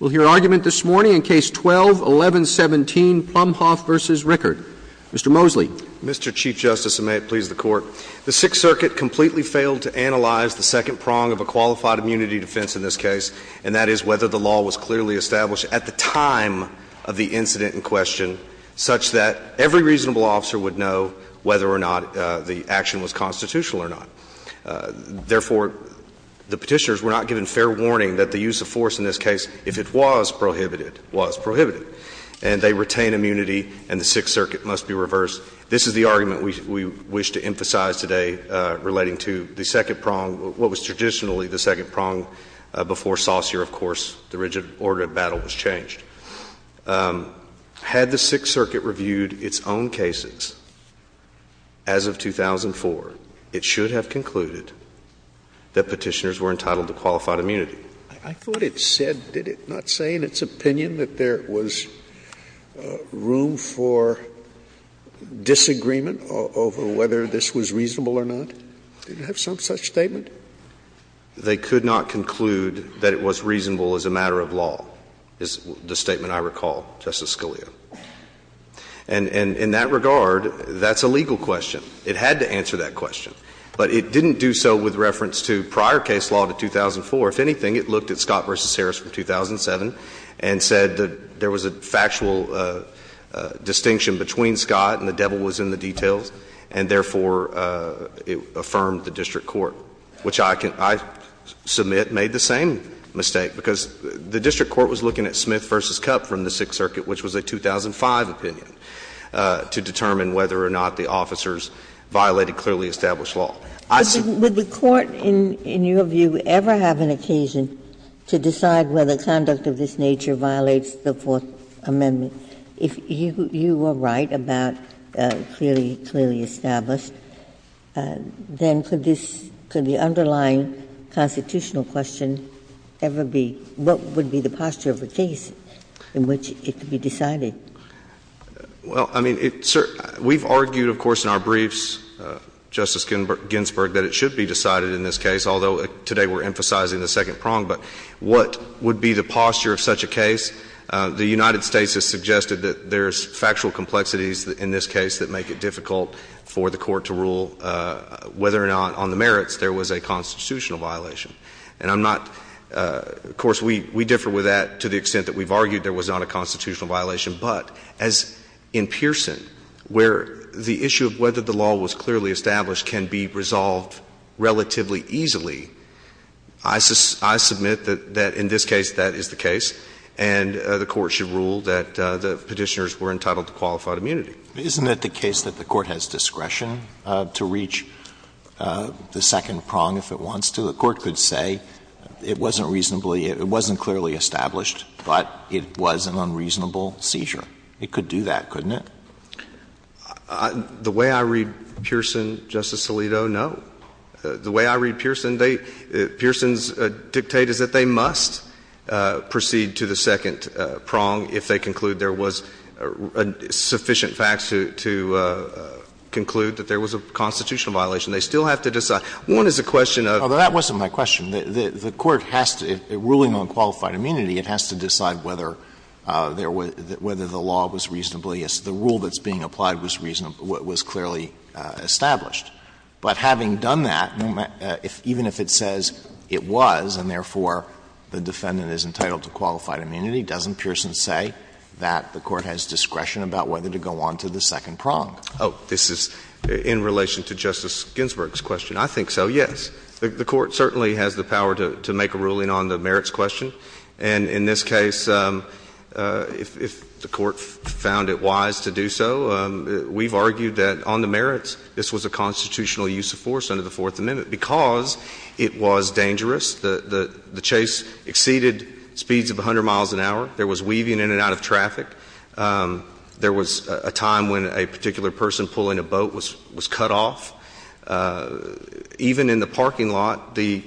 We'll hear argument this morning in Case 12-1117, Plumhoff v. Rickard. Mr. Mosley. Mr. Chief Justice, and may it please the Court, the Sixth Circuit completely failed to analyze the second prong of a qualified immunity defense in this case, and that is whether the law was clearly established at the time of the incident in question such that every reasonable officer would know whether or not the action was constitutional or not. Therefore, the Petitioners were not given fair warning that the use of force in this case, if it was prohibited, was prohibited. And they retained immunity, and the Sixth Circuit must be reversed. This is the argument we wish to emphasize today relating to the second prong, what was traditionally the second prong before Saucer, of course, the rigid order of battle was changed. Had the Sixth Circuit reviewed its own cases as of 2004, it should have concluded that Petitioners were entitled to qualified immunity. Scalia. I thought it said, did it not say in its opinion that there was room for disagreement over whether this was reasonable or not? Did it have some such statement? They could not conclude that it was reasonable as a matter of law, is the statement I recall, Justice Scalia. And in that regard, that's a legal question. It had to answer that question. But it didn't do so with reference to prior case law to 2004. If anything, it looked at Scott v. Harris from 2007 and said that there was a factual distinction between Scott and the devil was in the details, and therefore it affirmed the district court, which I can – I submit made the same mistake, because the district court was looking at Smith v. Kupp from the Sixth Circuit, which was a 2005 opinion, to determine whether or not the officers violated clearly established law. Ginsburg. Would the court, in your view, ever have an occasion to decide whether conduct of this nature violates the Fourth Amendment? If you were right about clearly, clearly established, then could this – could the underlying constitutional question ever be what would be the posture of the case in which it could be decided? Well, I mean, it's – we've argued, of course, in our briefs, Justice Ginsburg, that it should be decided in this case, although today we're emphasizing the second prong. But what would be the posture of such a case? The United States has suggested that there's factual complexities in this case that make it difficult for the Court to rule whether or not on the merits there was a constitutional violation. And I'm not – of course, we differ with that to the extent that we've argued there was not a constitutional violation. But as in Pearson, where the issue of whether the law was clearly established can be resolved relatively easily, I submit that in this case that is the case. And the Court should rule that the Petitioners were entitled to qualified immunity. Isn't it the case that the Court has discretion to reach the second prong if it wants to? The Court could say it wasn't reasonably – it wasn't clearly established, but it was an unreasonable seizure. It could do that, couldn't it? The way I read Pearson, Justice Alito, no. The way I read Pearson, they – Pearson's dictate is that they must proceed to the second prong if they conclude there was sufficient facts to conclude that there was a constitutional violation. They still have to decide. One is the question of – Alito, that wasn't my question. The Court has to – ruling on qualified immunity, it has to decide whether there was – whether the law was reasonably – the rule that's being applied was reasonably – was clearly established. But having done that, even if it says it was, and therefore the defendant is entitled to qualified immunity, doesn't Pearson say that the Court has discretion about whether to go on to the second prong? Oh, this is in relation to Justice Ginsburg's question. I think so, yes. The Court certainly has the power to make a ruling on the merits question. And in this case, if the Court found it wise to do so, we've argued that on the merits, this was a constitutional use of force under the Fourth Amendment because it was dangerous. The chase exceeded speeds of 100 miles an hour. There was weaving in and out of traffic. There was a time when a particular person pulling a boat was cut off. Even in the parking lot, the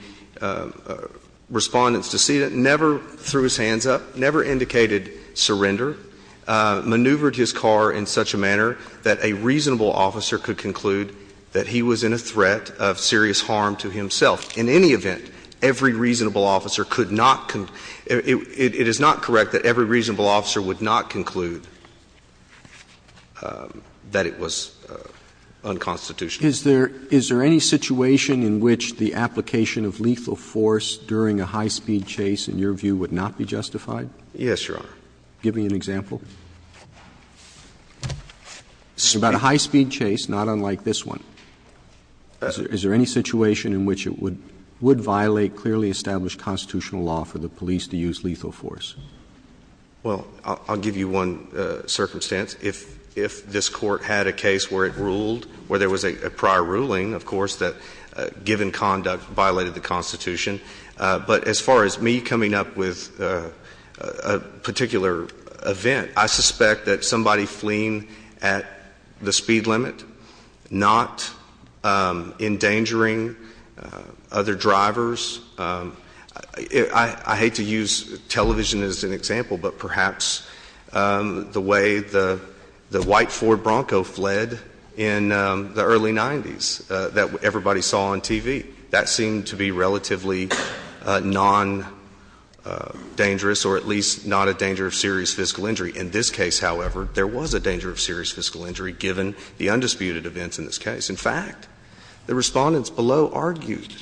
Respondent's decedent never threw his hands up, never indicated surrender, maneuvered his car in such a manner that a reasonable officer could conclude that he was in a threat of serious harm to himself. In any event, every reasonable officer could not conclude – it is not correct that every reasonable officer would not conclude that it was unconstitutional. Is there any situation in which the application of lethal force during a high-speed chase, in your view, would not be justified? Yes, Your Honor. Give me an example. About a high-speed chase, not unlike this one, is there any situation in which it would violate clearly established constitutional law for the police to use lethal force? Well, I'll give you one circumstance. If this Court had a case where it ruled, where there was a prior ruling, of course, that given conduct violated the Constitution, but as far as me coming up with a particular event, I suspect that somebody fleeing at the speed limit, not endangering other drivers – I hate to use television as an example, but perhaps the way the white Ford Bronco fled in the early 90s that everybody saw on TV. That seemed to be relatively non-dangerous, or at least not a danger of serious physical injury. In this case, however, there was a danger of serious physical injury, given the undisputed events in this case. In fact, the Respondents below argued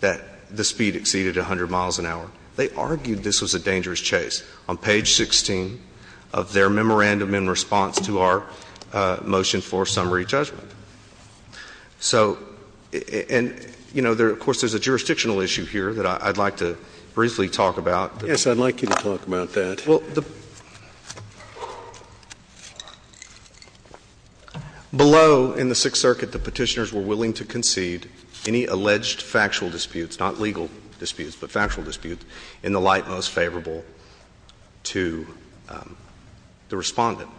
that the speed exceeded 100 miles an hour. They argued this was a dangerous chase. On page 16 of their memorandum in response to our motion for summary judgment. So, and, you know, of course, there's a jurisdictional issue here that I'd like to briefly talk about. Yes, I'd like you to talk about that. Well, below in the Sixth Circuit, the Petitioners were willing to concede any alleged factual disputes, not legal disputes, but factual disputes in the light most favorable to the Respondent.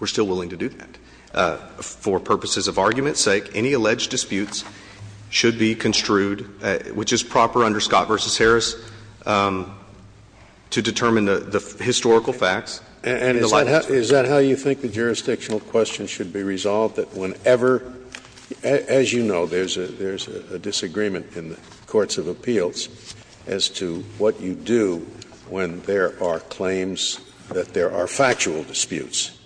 We're still willing to do that. For purposes of argument's sake, any alleged disputes should be construed, which is proper under Scott v. Harris, to determine the historical facts. And is that how you think the jurisdictional question should be resolved, that whenever, as you know, there's a disagreement in the courts of appeals as to what you do when there are claims that there are factual disputes?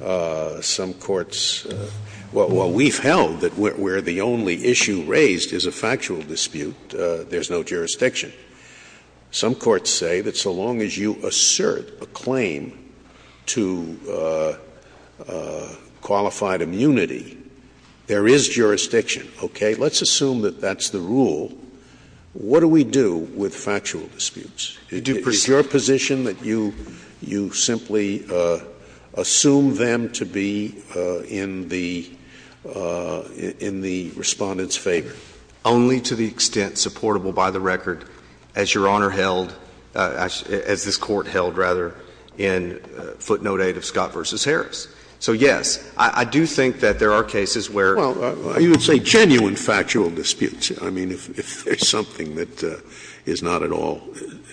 Some courts – well, we've held that where the only issue raised is a factual dispute, there's no jurisdiction. Some courts say that so long as you assert a claim to qualified immunity, there is jurisdiction. Okay? Let's assume that that's the rule. What do we do with factual disputes? Is your position that you simply assume them to be in the Respondent's favor? Only to the extent supportable by the record as Your Honor held, as this Court held, rather, in footnote 8 of Scott v. Harris. So, yes, I do think that there are cases where. Well, you would say genuine factual disputes. I mean, if there's something that is not at all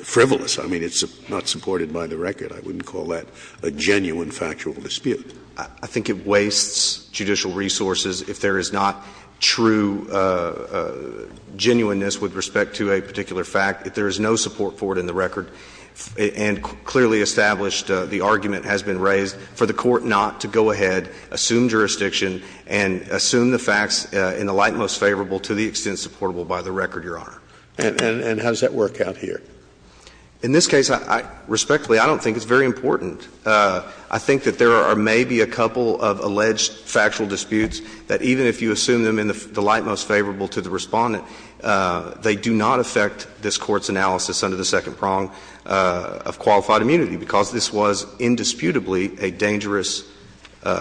frivolous. I mean, it's not supported by the record. I wouldn't call that a genuine factual dispute. I think it wastes judicial resources if there is not true genuineness with respect to a particular fact, if there is no support for it in the record. And clearly established, the argument has been raised for the Court not to go ahead, assume jurisdiction, and assume the facts in the light most favorable to the extent supportable by the record, Your Honor. And how does that work out here? In this case, respectfully, I don't think it's very important. I think that there are maybe a couple of alleged factual disputes that even if you assume them in the light most favorable to the Respondent, they do not affect this Court's analysis under the second prong of qualified immunity, because this was indisputably a dangerous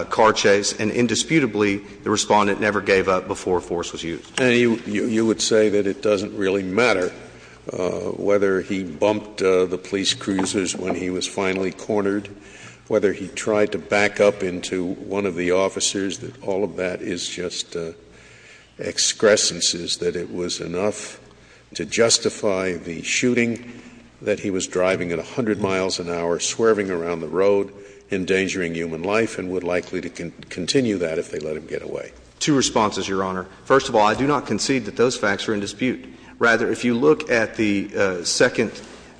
car chase and indisputably the Respondent never gave up before force was used. Scalia. And you would say that it doesn't really matter whether he bumped the police cruisers when he was finally cornered, whether he tried to back up into one of the officers, that all of that is just excrescences, that it was enough to justify the shooting that he was driving at 100 miles an hour, swerving around the road, endangering human life, and would likely continue that if they let him get away. Two responses, Your Honor. First of all, I do not concede that those facts are in dispute. Rather, if you look at the second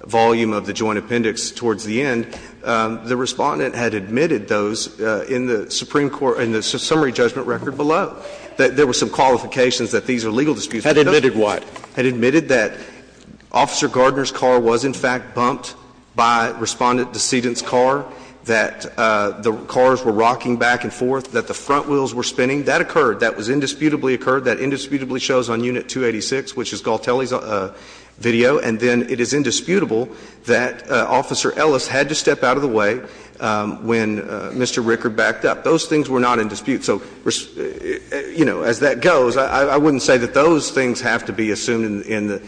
volume of the Joint Appendix towards the end, the Respondent had admitted those in the Supreme Court, in the summary judgment record below, that there were some qualifications that these are legal disputes. Had admitted what? Had admitted that Officer Gardner's car was, in fact, bumped by Respondent Decedent's car, that the cars were rocking back and forth, that the front wheels were spinning. That occurred. That was indisputably occurred. That indisputably shows on Unit 286, which is Galtelli's video. And then it is indisputable that Officer Ellis had to step out of the way when Mr. Rickard backed up. Those things were not in dispute. So, you know, as that goes, I wouldn't say that those things have to be assumed in the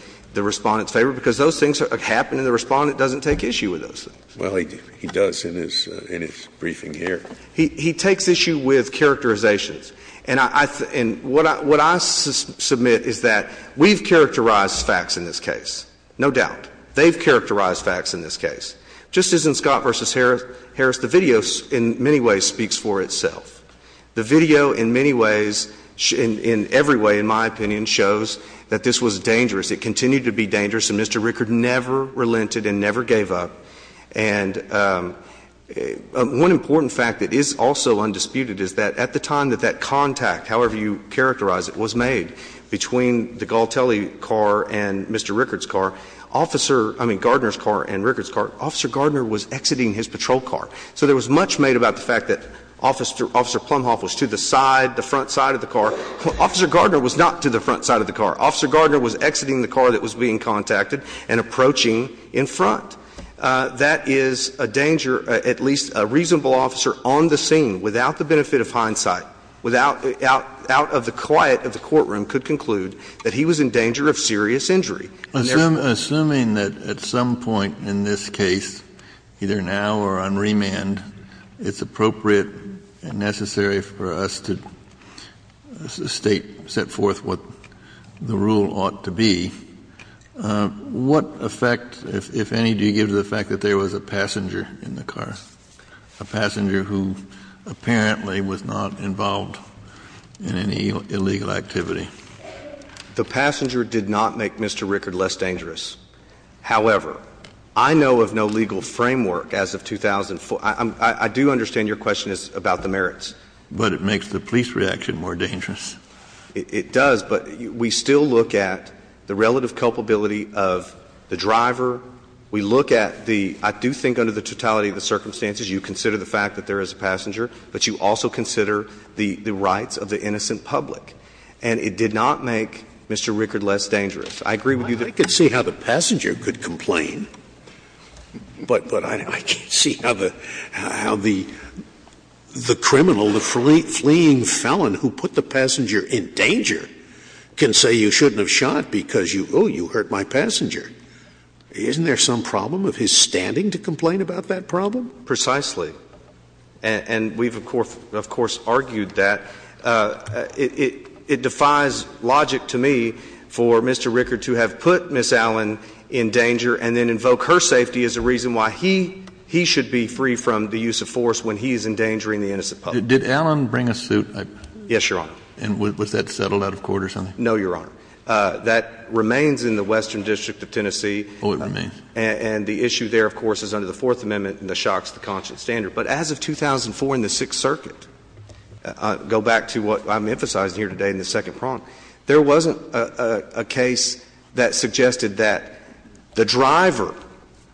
Respondent's favor, because those things happen and the Respondent doesn't take issue with those things. Well, he does in his briefing here. He takes issue with characterizations. And what I submit is that we've characterized facts in this case, no doubt. They've characterized facts in this case. Just as in Scott v. Harris, the video in many ways speaks for itself. The video in many ways, in every way, in my opinion, shows that this was dangerous. It continued to be dangerous, and Mr. Rickard never relented and never gave up. And one important fact that is also undisputed is that at the time that that contact, however you characterize it, was made between the Galtelli car and Mr. Rickard's car, Officer — I mean, Gardner's car and Rickard's car, Officer Gardner was exiting his patrol car. So there was much made about the fact that Officer Plumhoff was to the side, the front side of the car. Officer Gardner was not to the front side of the car. Officer Gardner was exiting the car that was being contacted and approaching in front. That is a danger, at least a reasonable officer on the scene, without the benefit of hindsight, without — out of the quiet of the courtroom, could conclude that he was in danger of serious injury. Kennedy. Assuming that at some point in this case, either now or on remand, it's appropriate and necessary for us to State, set forth what the rule ought to be, what effect, if any, do you give to the fact that there was a passenger in the car? A passenger who apparently was not involved in any illegal activity? The passenger did not make Mr. Rickard less dangerous. However, I know of no legal framework as of 2004. I do understand your question is about the merits. But it makes the police reaction more dangerous. It does, but we still look at the relative culpability of the driver. We look at the — I do think under the totality of the circumstances, you consider the fact that there is a passenger, but you also consider the rights of the innocent public, and it did not make Mr. Rickard less dangerous. I agree with you there. Scalia. I could see how the passenger could complain, but I can't see how the criminal, the fleeing felon who put the passenger in danger, can say you shouldn't have shot because, oh, you hurt my passenger. Isn't there some problem of his standing to complain about that problem? Precisely. And we've, of course, argued that. It defies logic to me for Mr. Rickard to have put Ms. Allen in danger and then invoke her safety as a reason why he should be free from the use of force when he is endangering the innocent public. Did Allen bring a suit? Yes, Your Honor. And was that settled out of court or something? No, Your Honor. That remains in the Western District of Tennessee. Oh, it remains. And the issue there, of course, is under the Fourth Amendment, and the shock's the conscience standard. But as of 2004 in the Sixth Circuit, go back to what I'm emphasizing here today in the second prong, there wasn't a case that suggested that the driver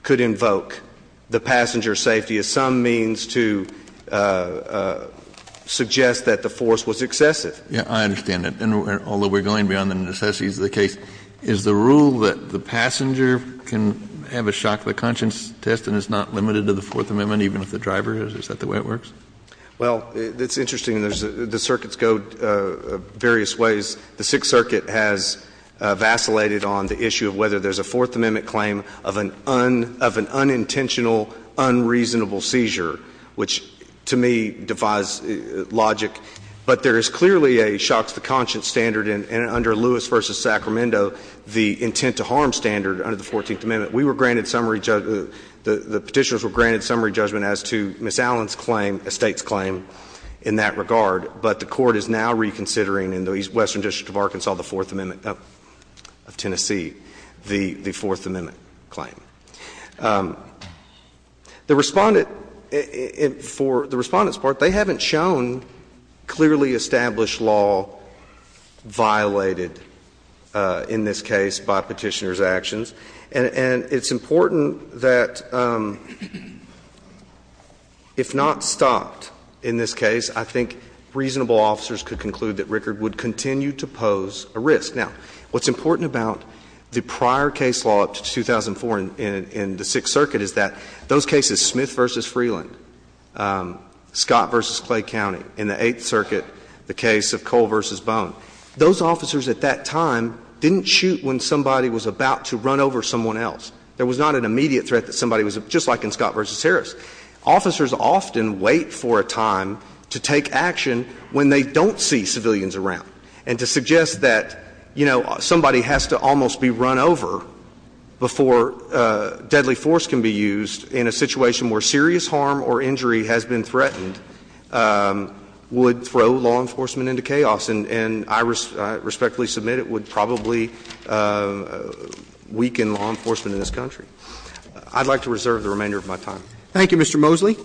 could invoke the passenger's safety as some means to suggest that the force was excessive. Yes, I understand that. And although we're going beyond the necessities of the case, is the rule that the driver can have a shock's the conscience test and it's not limited to the Fourth Amendment, even if the driver is? Is that the way it works? Well, it's interesting. The circuits go various ways. The Sixth Circuit has vacillated on the issue of whether there's a Fourth Amendment claim of an unintentional, unreasonable seizure, which to me defies logic. But there is clearly a shock's the conscience standard. And under Lewis v. Sacramento, the intent to harm standard under the Fourteenth Amendment, we were granted summary judgment, the Petitioners were granted summary judgment as to Ms. Allen's claim, a State's claim in that regard. But the Court is now reconsidering in the Western District of Arkansas, the Fourth Amendment of Tennessee, the Fourth Amendment claim. The Respondent, for the Respondent's part, they haven't shown clearly established law violated in this case by Petitioners' actions. And it's important that if not stopped in this case, I think reasonable officers could conclude that Rickard would continue to pose a risk. Now, what's important about the prior case law up to 2004 in the Sixth Circuit is that those cases, Smith v. Freeland, Scott v. Clay County, in the Eighth Circuit the case of Cole v. Bone, those officers at that time didn't shoot when somebody was about to run over someone else. There was not an immediate threat that somebody was just like in Scott v. Harris. Officers often wait for a time to take action when they don't see civilians around. And to suggest that, you know, somebody has to almost be run over before deadly force can be used in a situation where serious harm or injury has been threatened would throw law enforcement into chaos, and I respectfully submit it would probably weaken law enforcement in this country. I'd like to reserve the remainder of my time. Thank you, Mr. Mosley.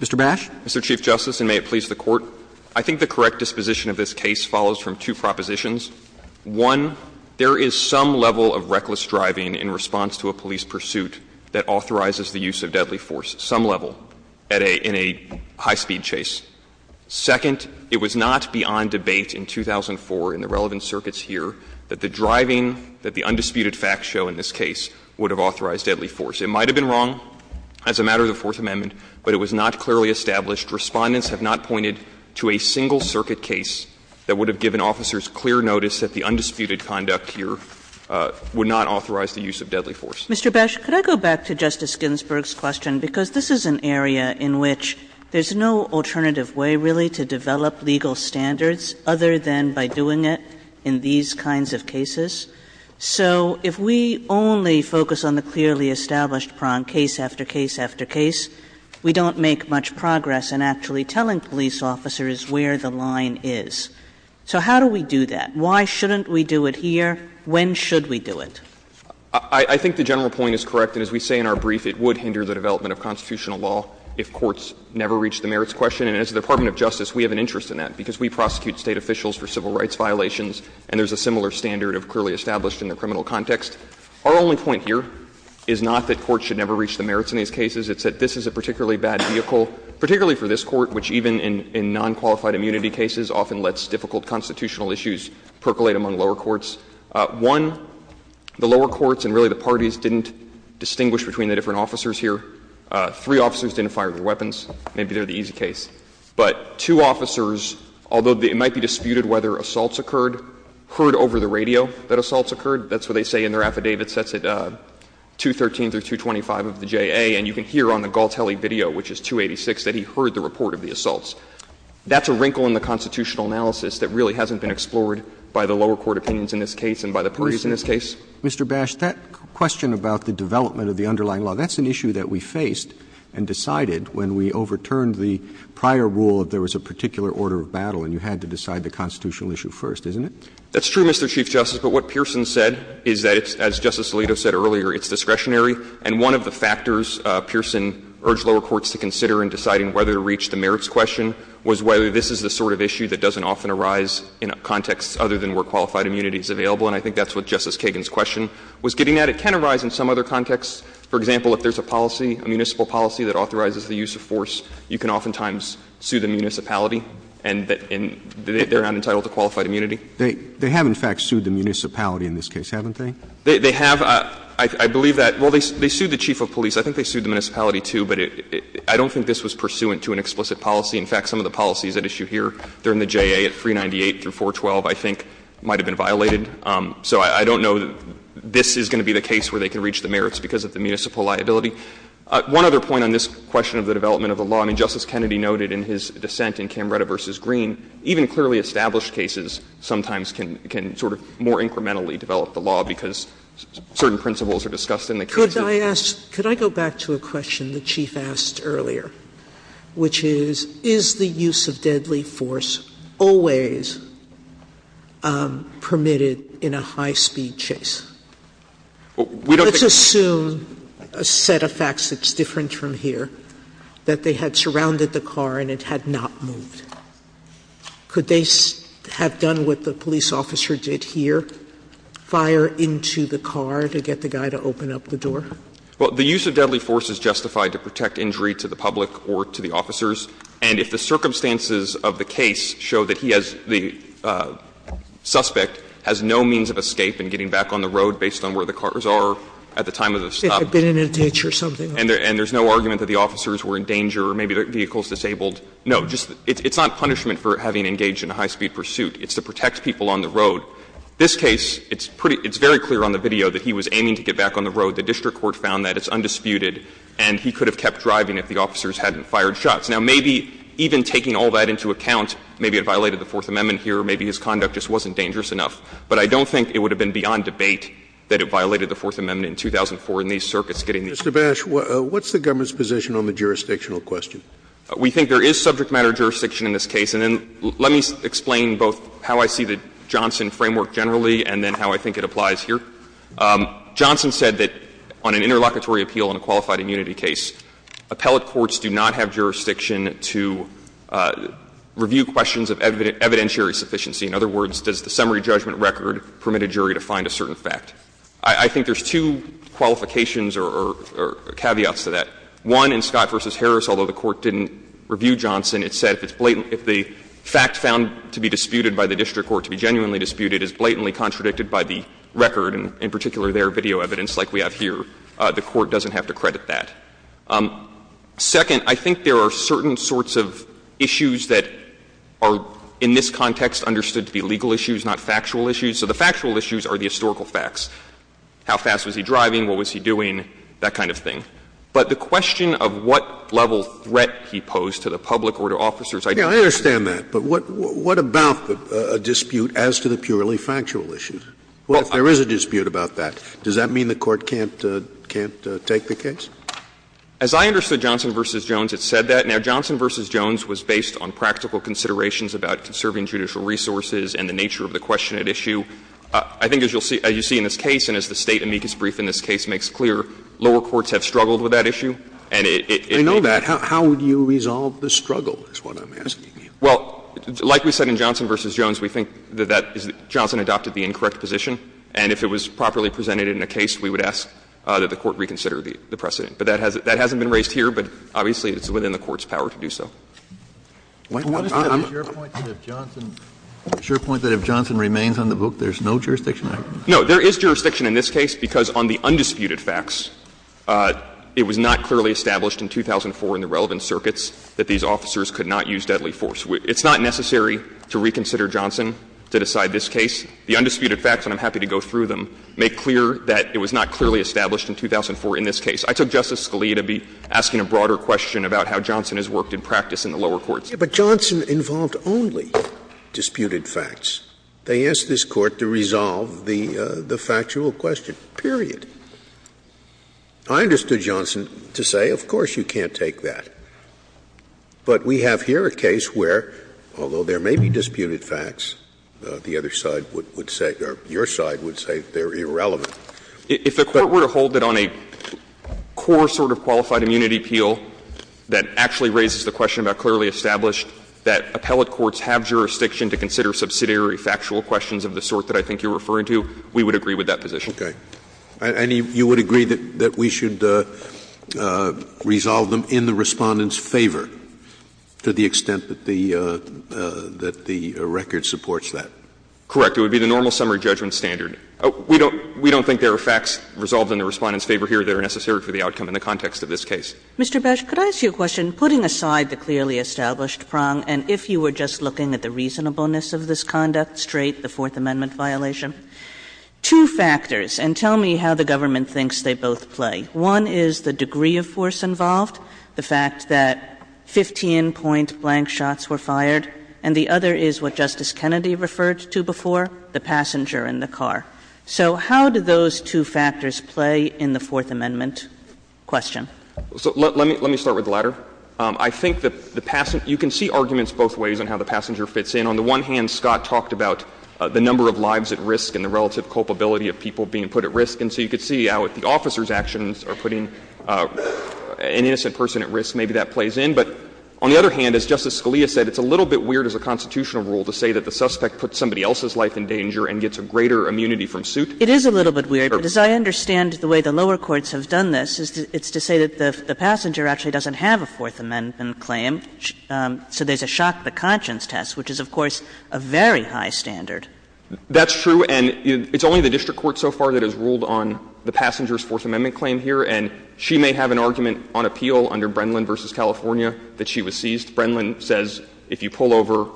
Mr. Bash. Mr. Chief Justice, and may it please the Court. I think the correct disposition of this case follows from two propositions. One, there is some level of reckless driving in response to a police pursuit that authorizes the use of deadly force, some level, in a high-speed chase. Second, it was not beyond debate in 2004 in the relevant circuits here that the driving that the undisputed facts show in this case would have authorized deadly force. It might have been wrong as a matter of the Fourth Amendment, but it was not clearly established. Respondents have not pointed to a single circuit case that would have given officers clear notice that the undisputed conduct here would not authorize the use of deadly force. Mr. Bash, could I go back to Justice Ginsburg's question, because this is an area in which there's no alternative way, really, to develop legal standards other than by doing it in these kinds of cases. So if we only focus on the clearly established prong, case after case after case, we don't make much progress in actually telling police officers where the line is. So how do we do that? Why shouldn't we do it here? When should we do it? I think the general point is correct, and as we say in our brief, it would hinder the development of constitutional law if courts never reached the merits question. And as the Department of Justice, we have an interest in that, because we prosecute State officials for civil rights violations, and there's a similar standard of clearly established in the criminal context. Our only point here is not that courts should never reach the merits in these cases. It's that this is a particularly bad vehicle, particularly for this Court, which even in nonqualified immunity cases often lets difficult constitutional issues percolate among lower courts. One, the lower courts and really the parties didn't distinguish between the different officers here. Three officers didn't fire their weapons. Maybe they're the easy case. But two officers, although it might be disputed whether assaults occurred, heard over the radio that assaults occurred. That's what they say in their affidavits. That's at 213 through 225 of the JA, and you can hear on the Galtelli video, which is 286, that he heard the report of the assaults. That's a wrinkle in the constitutional analysis that really hasn't been explored by the lower court opinions in this case and by the parties in this case. Roberts. Mr. Bash, that question about the development of the underlying law, that's an issue that we faced and decided when we overturned the prior rule that there was a particular order of battle and you had to decide the constitutional issue first, isn't it? That's true, Mr. Chief Justice, but what Pearson said is that, as Justice Alito said earlier, it's discretionary, and one of the factors Pearson urged lower courts to consider in deciding whether to reach the merits question was whether this is the sort of issue that doesn't often arise in a context other than where qualified immunity is available. And I think that's what Justice Kagan's question was getting at. It can arise in some other contexts. For example, if there's a policy, a municipal policy that authorizes the use of force, you can oftentimes sue the municipality and they're not entitled to qualified immunity. They have, in fact, sued the municipality in this case, haven't they? They have. I believe that they sued the chief of police. I think they sued the municipality, too, but I don't think this was pursuant to an explicit policy. In fact, some of the policies at issue here during the JA at 398 through 412, I think, might have been violated. So I don't know that this is going to be the case where they can reach the merits because of the municipal liability. One other point on this question of the development of the law, I mean, Justice Kennedy noted in his dissent in Camretta v. Green, even clearly established cases sometimes can sort of more incrementally develop the law because certain principles are discussed in the case. Sotomayor, could I go back to a question the chief asked earlier, which is, is the use of deadly force always permitted in a high-speed chase? Let's assume a set of facts that's different from here, that they had surrounded the car and it had not moved. Could they have done what the police officer did here, fire into the car to get the guy to open up the door? Well, the use of deadly force is justified to protect injury to the public or to the officers. And if the circumstances of the case show that he has the suspect has no means of escape and getting back on the road based on where the cars are at the time of the stop. If they had been in a ditch or something. And there's no argument that the officers were in danger or maybe the vehicle was disabled. No. It's not punishment for having engaged in a high-speed pursuit. It's to protect people on the road. This case, it's very clear on the video that he was aiming to get back on the road. The district court found that. It's undisputed. And he could have kept driving if the officers hadn't fired shots. Now, maybe even taking all that into account, maybe it violated the Fourth Amendment here, maybe his conduct just wasn't dangerous enough. But I don't think it would have been beyond debate that it violated the Fourth Amendment in 2004 in these circuits getting these people. Scalia. Mr. Bash, what's the government's position on the jurisdictional question? We think there is subject matter jurisdiction in this case. And then let me explain both how I see the Johnson framework generally and then how I think it applies here. Johnson said that on an interlocutory appeal on a qualified immunity case, appellate courts do not have jurisdiction to review questions of evidentiary sufficiency. In other words, does the summary judgment record permit a jury to find a certain fact? I think there's two qualifications or caveats to that. One, in Scott v. Harris, although the Court didn't review Johnson, it said if it's blatant — if the fact found to be disputed by the district court, to be genuinely disputed, is blatantly contradicted by the record, and in particular their video evidence like we have here, the Court doesn't have to credit that. Second, I think there are certain sorts of issues that are in this context understood to be legal issues, not factual issues. So the factual issues are the historical facts, how fast was he driving, what was he doing, that kind of thing. But the question of what level threat he posed to the public or to officers' identities. Scalia, I understand that, but what about a dispute as to the purely factual issues? Well, if there is a dispute about that, does that mean the Court can't take the case? As I understood Johnson v. Jones, it said that. Now, Johnson v. Jones was based on practical considerations about conserving judicial resources and the nature of the question at issue. I think as you'll see — as you see in this case, and as the State amicus brief in this case makes clear, lower courts have struggled with that issue, and it may be that. How would you resolve the struggle is what I'm asking you. Well, like we said in Johnson v. Jones, we think that that is — Johnson adopted the incorrect position, and if it was properly presented in a case, we would ask that the Court reconsider the precedent. But that hasn't been raised here, but obviously it's within the Court's power to do so. What is the issue? Your point that if Johnson — your point that if Johnson remains on the book, there's no jurisdiction argument? No. There is jurisdiction in this case because on the undisputed facts, it was not clearly established in 2004 in the relevant circuits that these officers could not use deadly force. It's not necessary to reconsider Johnson to decide this case. The undisputed facts, and I'm happy to go through them, make clear that it was not clearly established in 2004 in this case. I took Justice Scalia to be asking a broader question about how Johnson has worked in practice in the lower courts. But Johnson involved only disputed facts. They asked this Court to resolve the factual question, period. I understood Johnson to say, of course you can't take that. But we have here a case where, although there may be disputed facts, the other side would say — or your side would say they're irrelevant. If the Court were to hold it on a core sort of qualified immunity appeal that actually raises the question about clearly established, that appellate courts have jurisdiction to consider subsidiary factual questions of the sort that I think you're referring to, we would agree with that position. Okay. And you would agree that we should resolve them in the Respondent's favor to the extent that the — that the record supports that? Correct. It would be the normal summary judgment standard. We don't think there are facts resolved in the Respondent's favor here that are necessary for the outcome in the context of this case. Mr. Besh, could I ask you a question? Putting aside the clearly established prong, and if you were just looking at the reasonableness of this conduct straight, the Fourth Amendment violation, two factors — and tell me how the government thinks they both play. One is the degree of force involved, the fact that 15-point blank shots were fired. And the other is what Justice Kennedy referred to before, the passenger in the car. So how do those two factors play in the Fourth Amendment question? So let me start with the latter. I think the — you can see arguments both ways on how the passenger fits in. On the one hand, Scott talked about the number of lives at risk and the relative culpability of people being put at risk. And so you could see how if the officer's actions are putting an innocent person at risk, maybe that plays in. But on the other hand, as Justice Scalia said, it's a little bit weird as a constitutional rule to say that the suspect puts somebody else's life in danger and gets a greater immunity from suit. It is a little bit weird. Kagan. But as I understand the way the lower courts have done this, it's to say that the passenger actually doesn't have a Fourth Amendment claim, so there's a shock to conscience test, which is, of course, a very high standard. That's true. And it's only the district court so far that has ruled on the passenger's Fourth Amendment claim here. And she may have an argument on appeal under Brennan v. California that she was seized. Brennan says if you pull over,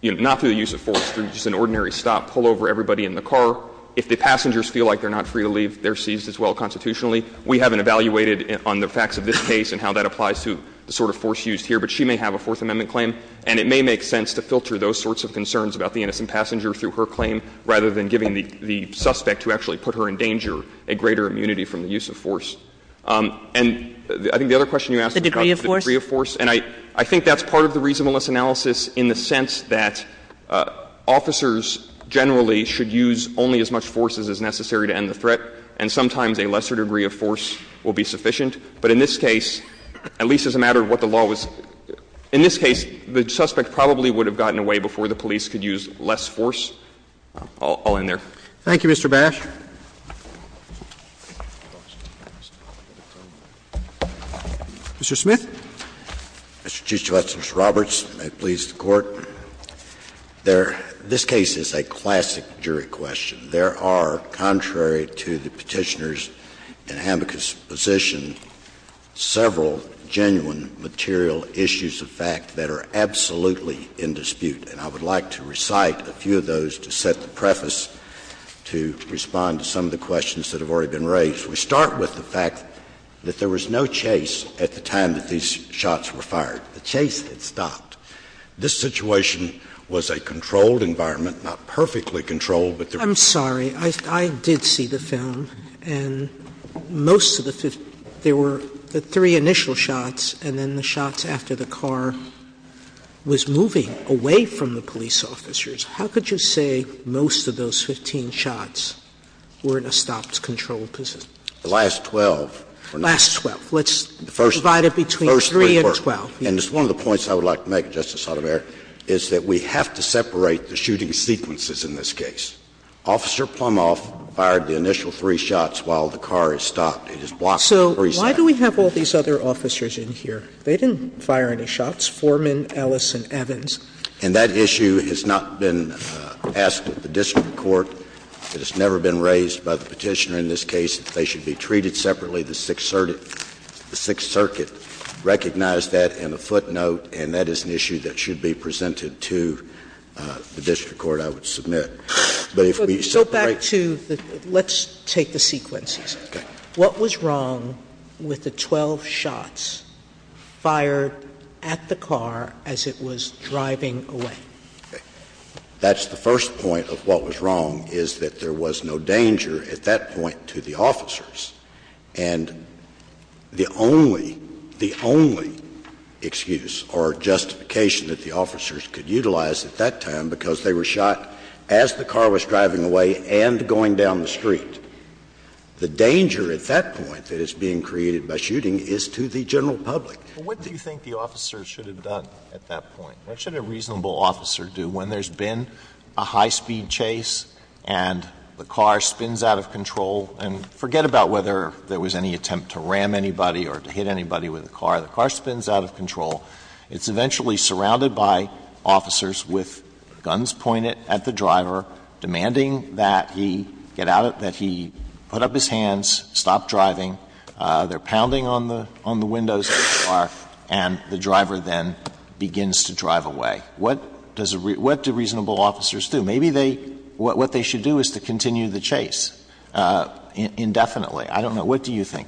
you know, not through the use of force, through just an ordinary stop, pull over everybody in the car. If the passengers feel like they're not free to leave, they're seized as well constitutionally. We haven't evaluated on the facts of this case and how that applies to the sort of force used here, but she may have a Fourth Amendment claim. And it may make sense to filter those sorts of concerns about the innocent passenger through her claim rather than giving the suspect who actually put her in danger a greater immunity from the use of force. And I think the other question you asked about the degree of force. And I think that's part of the reasonableness analysis in the sense that officers generally should use only as much force as is necessary to end the threat, and sometimes a lesser degree of force will be sufficient. But in this case, at least as a matter of what the law was — in this case, the suspect probably would have gotten away before the police could use less force. I'll end there. Thank you, Mr. Bash. Mr. Smith. Well, Your Honor, there — this case is a classic jury question. There are, contrary to the Petitioner's and Hamilkos' position, several genuine material issues of fact that are absolutely in dispute, and I would like to recite a few of those to set the preface to respond to some of the questions that have already been raised. We start with the fact that there was no chase at the time that these shots were fired. The chase had stopped. This situation was a controlled environment, not perfectly controlled, but there Sotomayor, I'm sorry. I did see the film, and most of the — there were the three initial shots, and then the shots after the car was moving away from the police officers. How could you say most of those 15 shots were in a stopped, controlled position? The last 12 were not. The last 12. Let's divide it between 3 and 12. And it's one of the points I would like to make, Justice Sotomayor, is that we have to separate the shooting sequences in this case. Officer Plumhoff fired the initial three shots while the car is stopped. It is blocked in the preset. So why do we have all these other officers in here? They didn't fire any shots, Foreman, Ellis, and Evans. And that issue has not been asked at the district court. It has never been raised by the Petitioner in this case that they should be treated separately. The Sixth Circuit recognized that in a footnote, and that is an issue that should be presented to the district court, I would submit. But if we separate the — Sotomayor, so back to the — let's take the sequences. Okay. What was wrong with the 12 shots fired at the car as it was driving away? Okay. That's the first point of what was wrong, is that there was no danger at that point to the officers. And the only — the only excuse or justification that the officers could utilize at that time, because they were shot as the car was driving away and going down the street, the danger at that point that is being created by shooting is to the general public. But what do you think the officers should have done at that point? What should a reasonable officer do when there's been a high-speed chase and the car spins out of control, it's eventually surrounded by officers with guns pointed at the driver, demanding that he get out of — that he put up his hands, stop driving, they're pounding on the windows of the car, and the driver then begins to drive away? What does a — what do reasonable officers do? Maybe they — what they should do is to continue the chase indefinitely. I don't know. What do you think?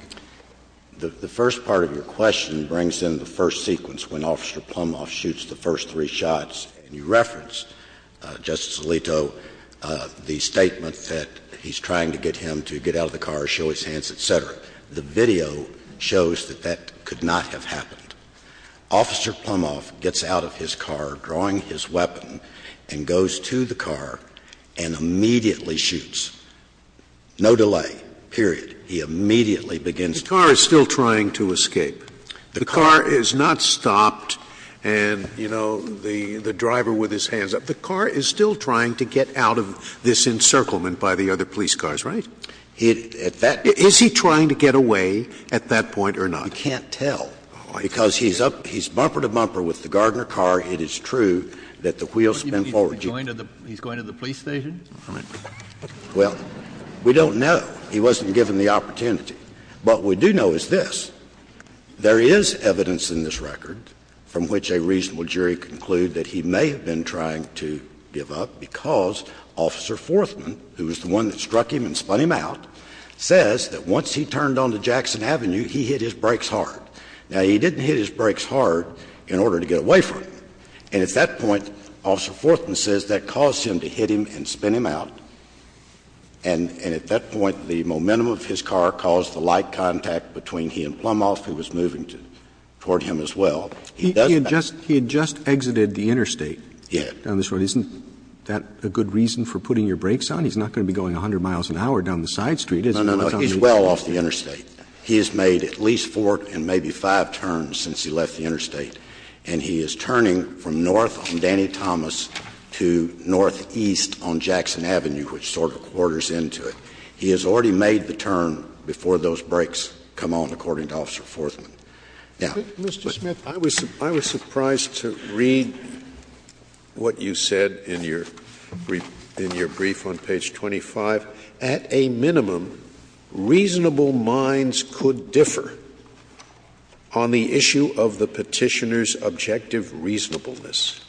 The first part of your question brings in the first sequence when Officer Plumhoff shoots the first three shots. You referenced, Justice Alito, the statement that he's trying to get him to get out of the car, show his hands, et cetera. The video shows that that could not have happened. Officer Plumhoff gets out of his car, drawing his weapon, and goes to the car and immediately shoots. No delay, period. He immediately begins to drive away. The car is still trying to escape. The car is not stopped and, you know, the driver with his hands up. The car is still trying to get out of this encirclement by the other police cars, right? At that — Is he trying to get away at that point or not? You can't tell, because he's up — he's bumper to bumper with the Gardner car. It is true that the wheels spin forward. He's going to the — he's going to the police station? Well, we don't know. He wasn't given the opportunity. What we do know is this. There is evidence in this record from which a reasonable jury can conclude that he may have been trying to give up because Officer Forthman, who was the one that struck him and spun him out, says that once he turned onto Jackson Avenue, he hit his brakes hard. Now, he didn't hit his brakes hard in order to get away from him. And at that point, Officer Forthman says that caused him to hit him and spin him out. And at that point, the momentum of his car caused the light contact between he and Plumhoff, who was moving toward him as well. He doesn't have to hit his brakes hard. He had just — he had just exited the interstate down this road. Yeah. Isn't that a good reason for putting your brakes on? He's not going to be going 100 miles an hour down the side street, is he? No, no, no. He's well off the interstate. He has made at least four and maybe five turns since he left the interstate. And he is turning from north on Danny Thomas to northeast on Jackson Avenue. He sort of quarters into it. He has already made the turn before those brakes come on, according to Officer Forthman. Now — But, Mr. Smith, I was surprised to read what you said in your brief on page 25. At a minimum, reasonable minds could differ on the issue of the petitioner's objective reasonableness.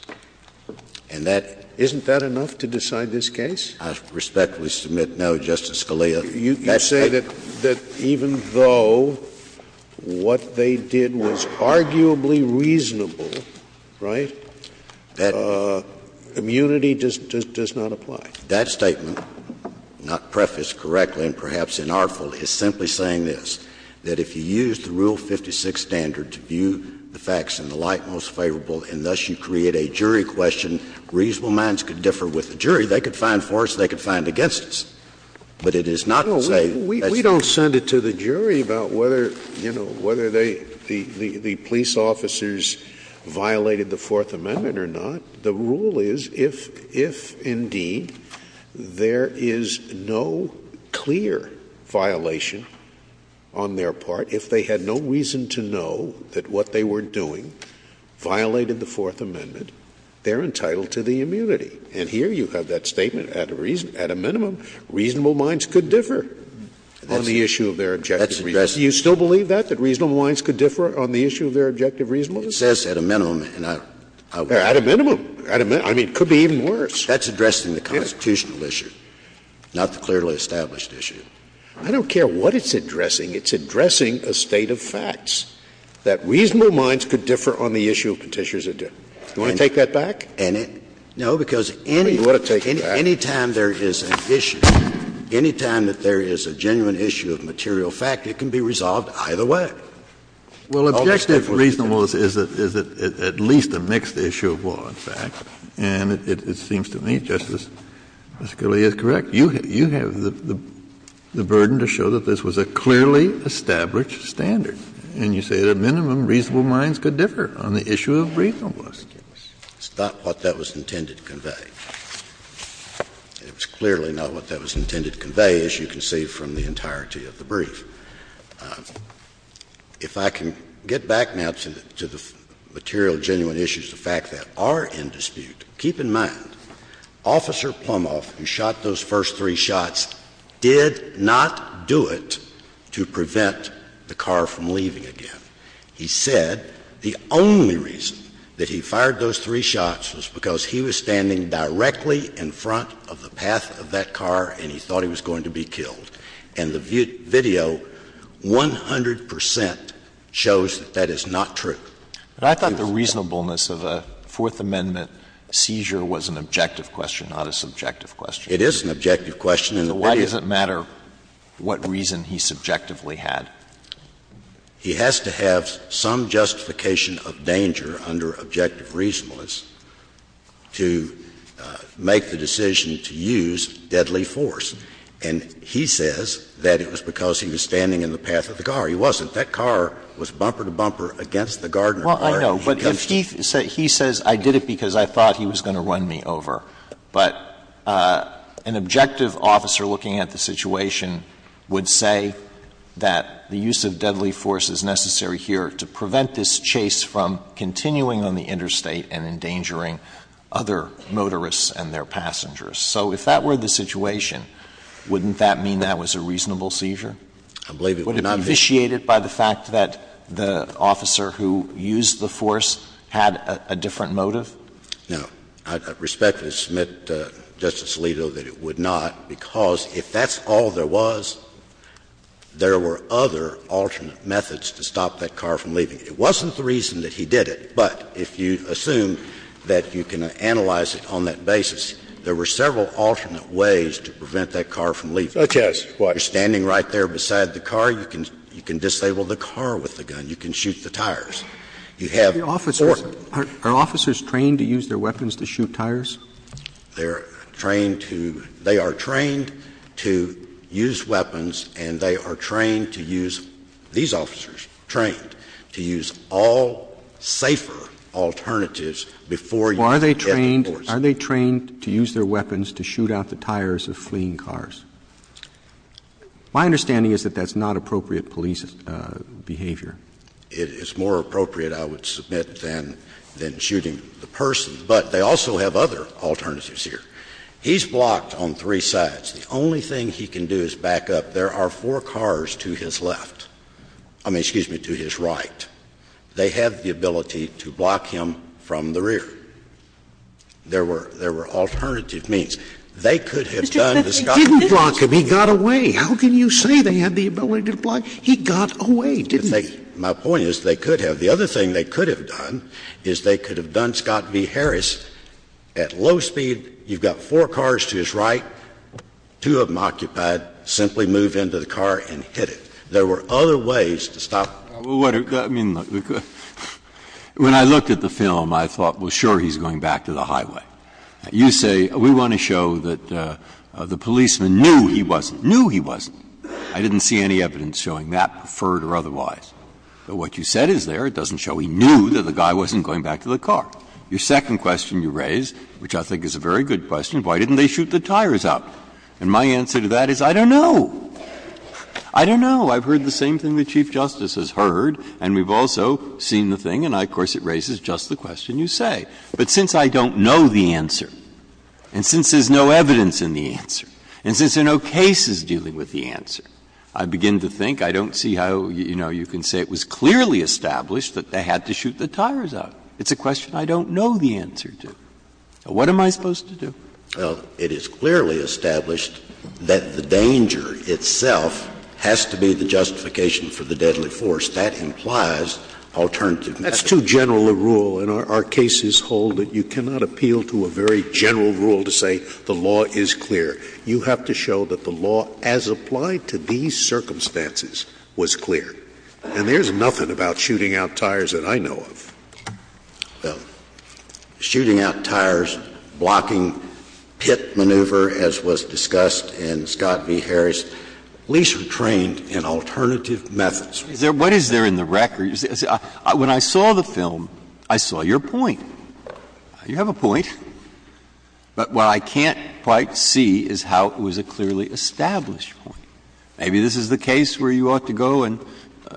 And that — isn't that enough to decide this case? I respectfully submit no, Justice Scalia. You say that even though what they did was arguably reasonable, right, immunity does not apply. That statement, not prefaced correctly and perhaps inartfully, is simply saying this, that if you use the Rule 56 standard to view the facts in the light most favorable and thus you create a jury question, reasonable minds could differ with the jury. They could find for us. They could find against us. But it is not to say — No, we don't send it to the jury about whether, you know, whether they — the police officers violated the Fourth Amendment or not. The rule is if, indeed, there is no clear violation on their part, if they had no reason to know that what they were doing violated the Fourth Amendment, they're entitled to the immunity. And here you have that statement, at a reason — at a minimum, reasonable minds could differ on the issue of their objective reasonableness. Do you still believe that, that reasonable minds could differ on the issue of their objective reasonableness? It says at a minimum, and I — At a minimum. I mean, it could be even worse. That's addressing the constitutional issue, not the clearly established issue. I don't care what it's addressing. It's addressing a state of facts, that reasonable minds could differ on the issue of petitioner's — do you want to take that back? And it — no, because any — You want to take that back? Any time there is an issue, any time that there is a genuine issue of material fact, it can be resolved either way. Well, objective reasonableness is at least a mixed issue of law, in fact. And it seems to me, Justice Scalia, it's correct. You have the burden to show that this was a clearly established standard. And you say at a minimum, reasonable minds could differ on the issue of reasonableness. It's not what that was intended to convey. It was clearly not what that was intended to convey, as you can see from the entirety of the brief. If I can get back now to the material genuine issues, the fact that are in dispute, keep in mind, Officer Plumhoff, who shot those first three shots, did not do it to prevent the car from leaving again. He said the only reason that he fired those three shots was because he was standing directly in front of the path of that car and he thought he was going to be killed. And the video 100 percent shows that that is not true. But I thought the reasonableness of a Fourth Amendment seizure was an objective question, not a subjective question. It is an objective question. And why does it matter what reason he subjectively had? He has to have some justification of danger under objective reasonableness to make the decision to use deadly force. And he says that it was because he was standing in the path of the car. He wasn't. That car was bumper to bumper against the Gardner car. Alito, but if he says, I did it because I thought he was going to run me over, but an objective officer looking at the situation would say that the use of deadly force is necessary here to prevent this chase from continuing on the interstate and endangering other motorists and their passengers. So if that were the situation, wouldn't that mean that was a reasonable seizure? I believe it would not be. Would it be vitiated by the fact that the officer who used the force had a different motive? No. I respectfully submit to Justice Alito that it would not, because if that's all there was, there were other alternate methods to stop that car from leaving. It wasn't the reason that he did it, but if you assume that you can analyze it on that basis, there were several alternate ways to prevent that car from leaving. Such as what? You're standing right there beside the car. You can disable the car with the gun. You can shoot the tires. You have force. Are officers trained to use their weapons to shoot tires? They are trained to use weapons and they are trained to use, these officers trained, to use all safer alternatives before you use deadly force. Are they trained to use their weapons to shoot out the tires of fleeing cars? My understanding is that that's not appropriate police behavior. It is more appropriate, I would submit, than shooting the person. But they also have other alternatives here. He's blocked on three sides. The only thing he can do is back up. There are four cars to his left. I mean, excuse me, to his right. They have the ability to block him from the rear. There were alternative means. They could have done to stop him. But they didn't block him. He got away. How can you say they had the ability to block him? He got away, didn't he? My point is they could have. The other thing they could have done is they could have done Scott v. Harris. At low speed, you've got four cars to his right. Two of them occupied. Simply move into the car and hit it. There were other ways to stop. Breyer, I mean, when I looked at the film, I thought, well, sure, he's going back to the highway. You say we want to show that the policeman knew he wasn't. Knew he wasn't. I didn't see any evidence showing that, preferred or otherwise. But what you said is there. It doesn't show he knew that the guy wasn't going back to the car. Your second question you raise, which I think is a very good question, why didn't they shoot the tires up? And my answer to that is I don't know. I don't know. I've heard the same thing the Chief Justice has heard, and we've also seen the thing, and I, of course, it raises just the question you say. But since I don't know the answer, and since there's no evidence in the answer, and since there are no cases dealing with the answer, I begin to think I don't see how, you know, you can say it was clearly established that they had to shoot the tires up. It's a question I don't know the answer to. What am I supposed to do? Scalia Well, it is clearly established that the danger itself has to be the justification for the deadly force. That implies alternative measures. Scalia That's too general a rule, and our cases hold that you cannot appeal to a very general rule to say the law is clear. You have to show that the law, as applied to these circumstances, was clear. And there's nothing about shooting out tires that I know of. Well, shooting out tires, blocking pit maneuver, as was discussed in Scott v. Harris, least retrained in alternative methods. Breyer Is there — what is there in the record? When I saw the film, I saw your point. You have a point. But what I can't quite see is how it was a clearly established point. Maybe this is the case where you ought to go and,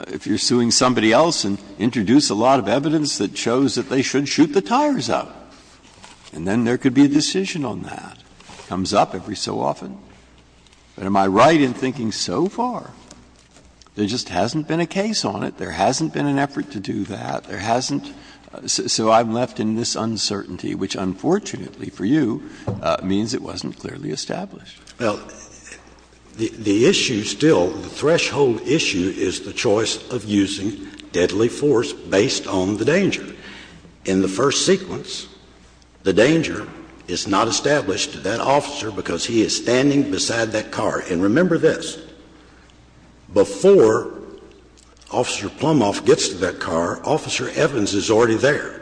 if you're suing somebody else, and introduce a lot of evidence that shows that they should shoot the tires up. And then there could be a decision on that. It comes up every so often. But am I right in thinking so far? There just hasn't been a case on it. There hasn't been an effort to do that. There hasn't. So I'm left in this uncertainty, which, unfortunately for you, means it wasn't clearly established. Scalia Well, the issue still, the threshold issue, is the choice of using deadly force based on the danger. In the first sequence, the danger is not established to that officer because he is standing beside that car. And remember this. Before Officer Plumhoff gets to that car, Officer Evans is already there.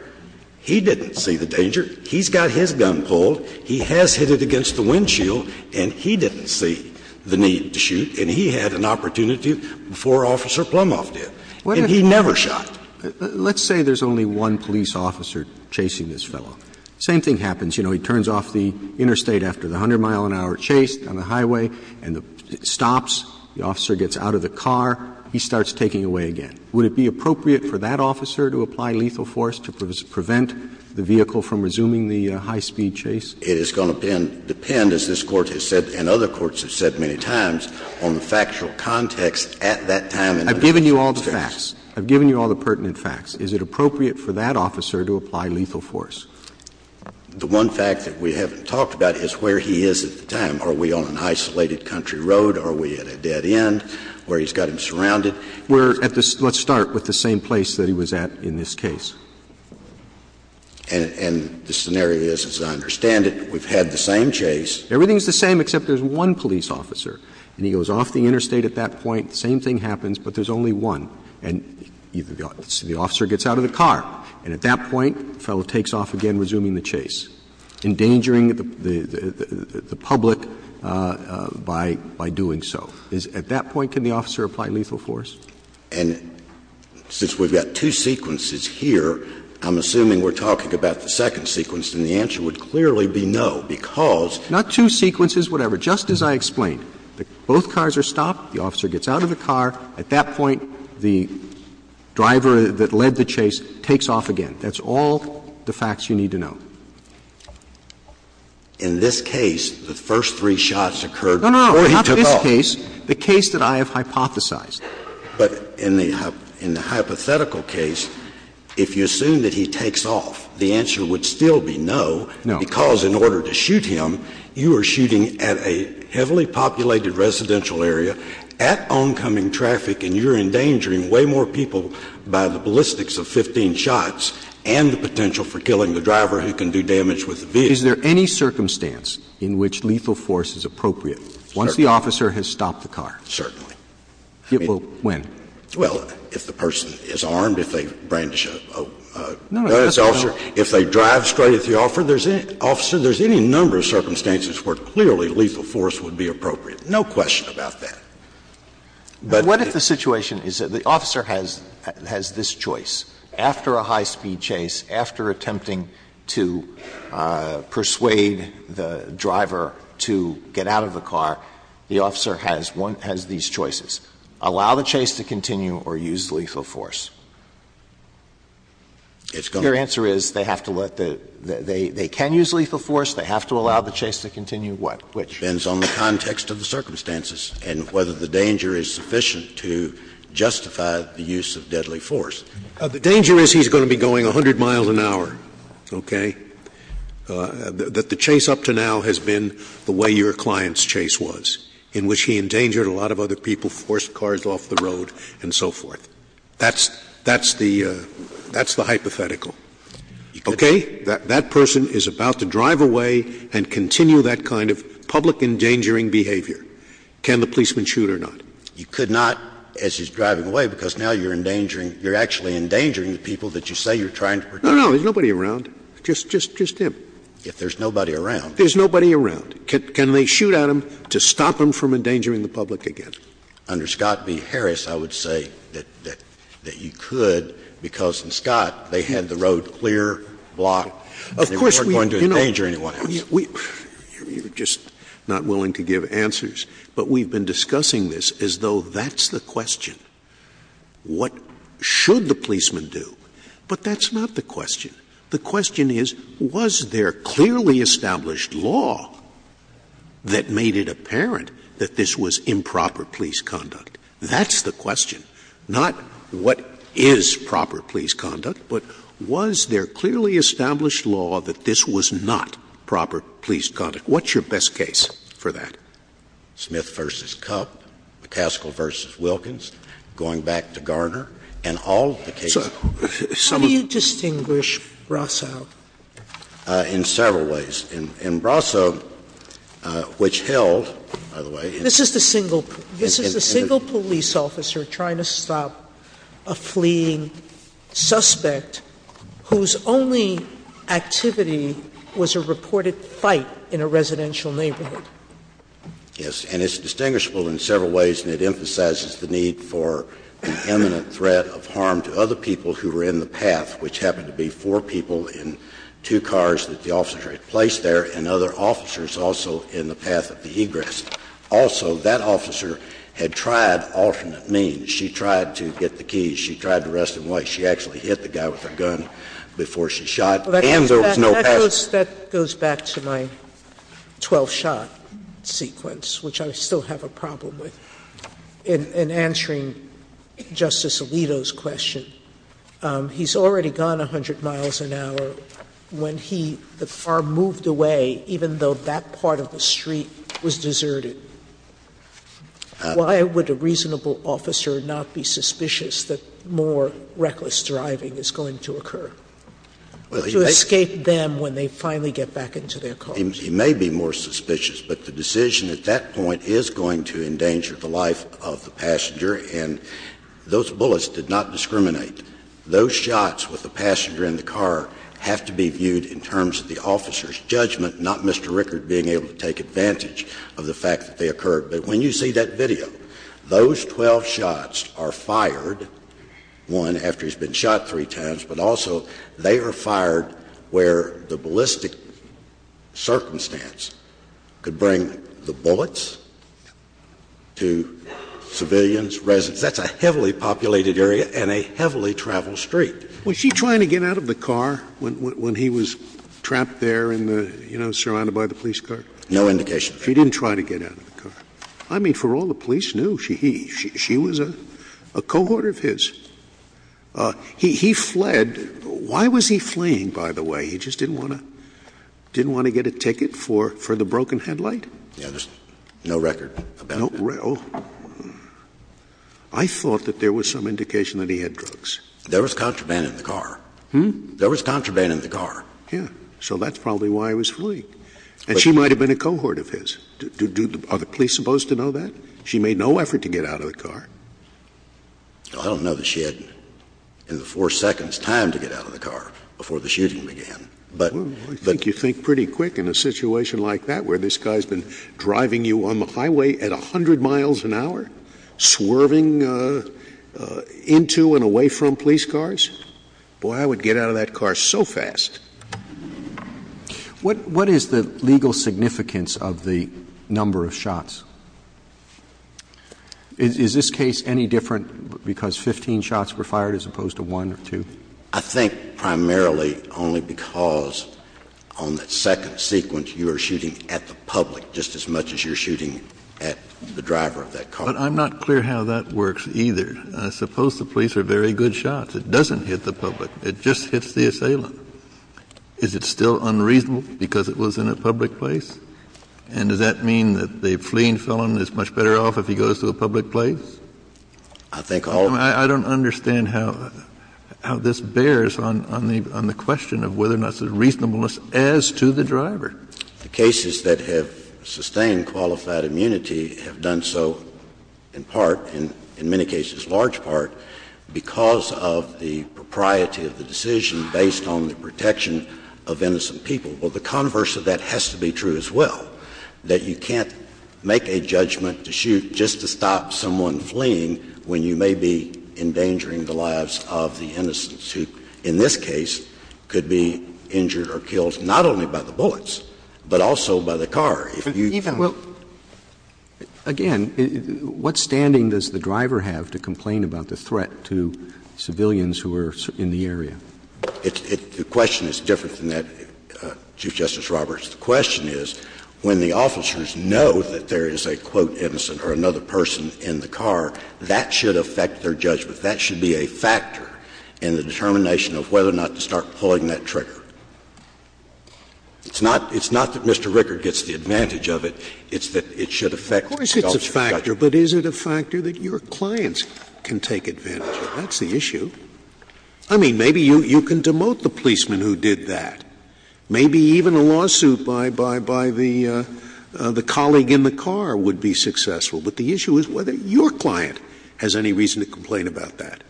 He didn't see the danger. He's got his gun pulled. He has hit it against the windshield. And he didn't see the need to shoot. And he had an opportunity before Officer Plumhoff did. And he never shot. Roberts Let's say there's only one police officer chasing this fellow. Same thing happens. You know, he turns off the interstate after the 100-mile-an-hour chase on the highway and it stops. The officer gets out of the car. He starts taking away again. Would it be appropriate for that officer to apply lethal force to prevent the vehicle from resuming the high-speed chase? Scalia It is going to depend, as this Court has said and other courts have said many times, on the factual context at that time. Roberts I've given you all the facts. I've given you all the pertinent facts. Is it appropriate for that officer to apply lethal force? Scalia The one fact that we haven't talked about is where he is at the time. Are we on an isolated country road? Are we at a dead end where he's got him surrounded? Roberts We're at the — let's start with the same place that he was at in this case. Scalia And the scenario is, as I understand it, we've had the same chase. Roberts Everything's the same except there's one police officer. And he goes off the interstate at that point. The same thing happens, but there's only one. And the officer gets out of the car. And at that point, the fellow takes off again, resuming the chase, endangering the public by doing so. At that point, can the officer apply lethal force? Scalia And since we've got two sequences here, I'm assuming we're talking about the second sequence. And the answer would clearly be no, because — Roberts Not two sequences, whatever. Just as I explained. Both cars are stopped. The officer gets out of the car. At that point, the driver that led the chase takes off again. That's all the facts you need to know. Scalia In this case, the first three shots occurred before he took off. No, no, no. Not this case. The case that I have hypothesized. Scalia But in the hypothetical case, if you assume that he takes off, the answer would still be no, because in order to shoot him, you are shooting at a heavily populated residential area, at oncoming traffic, and you're endangering way more people by the way. So you can do damage with the vehicle. Roberts Is there any circumstance in which lethal force is appropriate once the officer has stopped the car? Scalia Certainly. Roberts It will — when? Scalia Well, if the person is armed, if they brandish a gun at the officer, if they drive straight at the officer, there's any number of circumstances where clearly lethal force would be appropriate. No question about that. But the — Alito What if the situation is that the officer has this choice? After a high-speed chase, after attempting to persuade the driver to get out of the car, the officer has one — has these choices. Allow the chase to continue or use lethal force. Your answer is they have to let the — they can use lethal force, they have to allow the chase to continue, what? Which? Scalia Depends on the context of the circumstances and whether the danger is sufficient to justify the use of deadly force. Scalia The danger is he's going to be going 100 miles an hour, okay? The chase up to now has been the way your client's chase was, in which he endangered a lot of other people, forced cars off the road and so forth. That's the hypothetical. Okay? That person is about to drive away and continue that kind of public endangering behavior. Can the policeman shoot or not? You could not as he's driving away because now you're endangering — you're actually endangering the people that you say you're trying to protect. No, no. There's nobody around, just him. If there's nobody around. There's nobody around. Can they shoot at him to stop him from endangering the public again? Under Scott v. Harris, I would say that you could because in Scott, they had the road clear, blocked, and they weren't going to endanger anyone else. You're just not willing to give answers, but we've been discussing this as though that's the question. What should the policeman do? But that's not the question. The question is, was there clearly established law that made it apparent that this was improper police conduct? That's the question. Not what is proper police conduct, but was there clearly established law that this was not proper police conduct? What's your best case for that? Smith v. Cupp, McCaskill v. Wilkins, going back to Garner, and all the cases— So how do you distinguish Brasso? In several ways. In Brasso, which held, by the way— This is the single — this is the single police officer trying to stop a fleeing suspect whose only activity was a reported fight in a residential neighborhood. Yes. And it's distinguishable in several ways, and it emphasizes the need for an imminent threat of harm to other people who were in the path, which happened to be four people in two cars that the officer had placed there and other officers also in the path of the egress. Also, that officer had tried alternate means. She tried to get the keys. She tried to arrest him. Why? She actually hit the guy with her gun before she shot, and there was no pass— That goes back to my 12-shot sequence, which I still have a problem with, in answering Justice Alito's question. He's already gone 100 miles an hour when he — the car moved away, even though that part of the street was deserted. Why would a reasonable officer not be suspicious that more reckless driving is going to occur to escape them when they finally get back into their cars? He may be more suspicious, but the decision at that point is going to endanger the life of the passenger, and those bullets did not discriminate. Those shots with the passenger in the car have to be viewed in terms of the officer's advantage of the fact that they occurred. But when you see that video, those 12 shots are fired, one, after he's been shot three times, but also they are fired where the ballistic circumstance could bring the bullets to civilians, residents. That's a heavily populated area and a heavily traveled street. Was she trying to get out of the car when he was trapped there in the — you know, surrounded by the police car? No indication. She didn't try to get out of the car. I mean, for all the police knew, she was a cohort of his. He fled. Why was he fleeing, by the way? He just didn't want to — didn't want to get a ticket for the broken headlight? Yeah. There's no record about it. No — I thought that there was some indication that he had drugs. There was contraband in the car. Hmm? There was contraband in the car. Yeah. So that's probably why he was fleeing. And she might have been a cohort of his. Are the police supposed to know that? She made no effort to get out of the car. Well, I don't know that she had in the four seconds time to get out of the car before the shooting began, but — Well, I think you think pretty quick in a situation like that, where this guy's been driving you on the highway at 100 miles an hour, swerving into and away from police cars. Boy, I would get out of that car so fast. What — what is the legal significance of the number of shots? Is this case any different because 15 shots were fired as opposed to one or two? I think primarily only because on that second sequence, you are shooting at the public just as much as you're shooting at the driver of that car. But I'm not clear how that works either. I suppose the police are very good shots. It doesn't hit the public. It just hits the assailant. Is it still unreasonable because it was in a public place? And does that mean that the fleeing felon is much better off if he goes to a public place? I think all — I don't understand how this bears on the question of whether or not it's a reasonableness as to the driver. The cases that have sustained qualified immunity have done so in part, in many cases large part, because of the propriety of the decision based on the protection of innocent people. Well, the converse of that has to be true as well, that you can't make a judgment to shoot just to stop someone fleeing when you may be endangering the lives of the innocents who, in this case, could be injured or killed not only by the bullets but also by the car. Well, again, what standing does the driver have to complain about the threat to civilians who are in the area? The question is different than that, Chief Justice Roberts. The question is when the officers know that there is a, quote, innocent or another person in the car, that should affect their judgment. That should be a factor in the determination of whether or not to start pulling that trigger. It's not that Mr. Rickert gets the advantage of it. It's that it should affect the officer's judgment. Scalia's Justice, but is it a factor that your clients can take advantage of? That's the issue. I mean, maybe you can demote the policeman who did that. Maybe even a lawsuit by the colleague in the car would be successful. But the issue is whether your client has any reason to complain about that.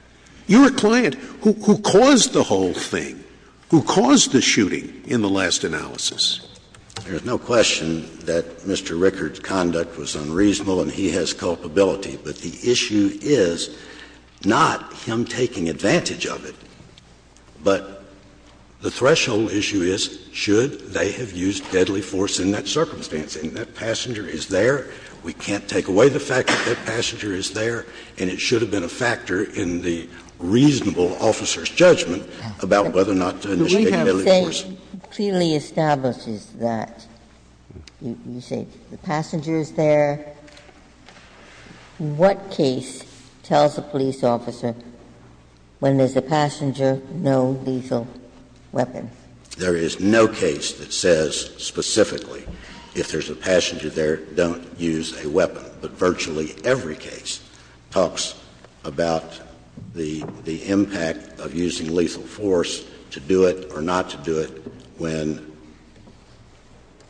You're a client who caused the whole thing, who caused the shooting in the last analysis. There's no question that Mr. Rickert's conduct was unreasonable and he has culpability. But the issue is not him taking advantage of it, but the threshold issue is should they have used deadly force in that circumstance. And that passenger is there. We can't take away the fact that that passenger is there. And it should have been a factor in the reasonable officer's judgment about whether or not to initiate deadly force. But what you have to say clearly establishes that. You say the passenger is there. What case tells a police officer when there's a passenger, no lethal weapon? There is no case that says specifically if there's a passenger there, don't use a weapon. But virtually every case talks about the impact of using lethal force to do it or not to do it when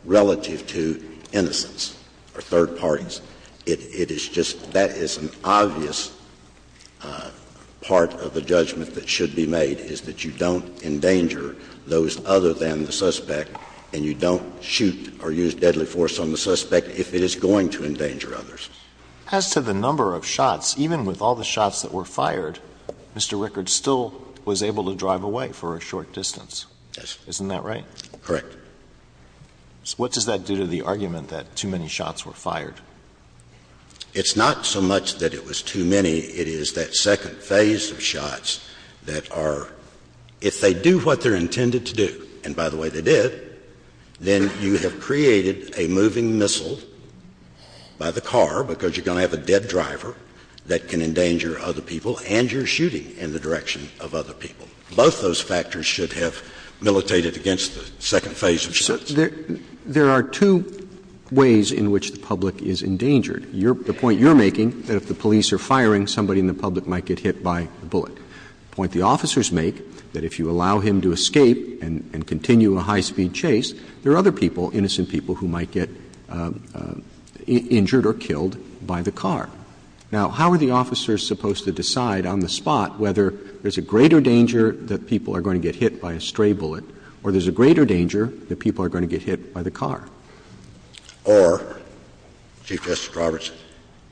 relative to innocents or third parties. It is just that is an obvious part of the judgment that should be made, is that you don't endanger those other than the suspect and you don't shoot or use deadly force on the suspect if it is going to endanger others. As to the number of shots, even with all the shots that were fired, Mr. Rickards still was able to drive away for a short distance. Yes. Isn't that right? Correct. What does that do to the argument that too many shots were fired? It's not so much that it was too many. It is that second phase of shots that are, if they do what they're intended to do, and by the way, they did, then you have created a moving missile by the car, because you're going to have a dead driver that can endanger other people, and you're shooting in the direction of other people. Both those factors should have militated against the second phase of shots. There are two ways in which the public is endangered. The point you're making, that if the police are firing, somebody in the public might get hit by the bullet. The point the officers make, that if you allow him to escape and continue a high-speed chase, there are other people, innocent people, who might get injured or killed by the car. Now, how are the officers supposed to decide on the spot whether there's a greater danger that people are going to get hit by a stray bullet or there's a greater danger that people are going to get hit by the car? Or, Chief Justice Roberts,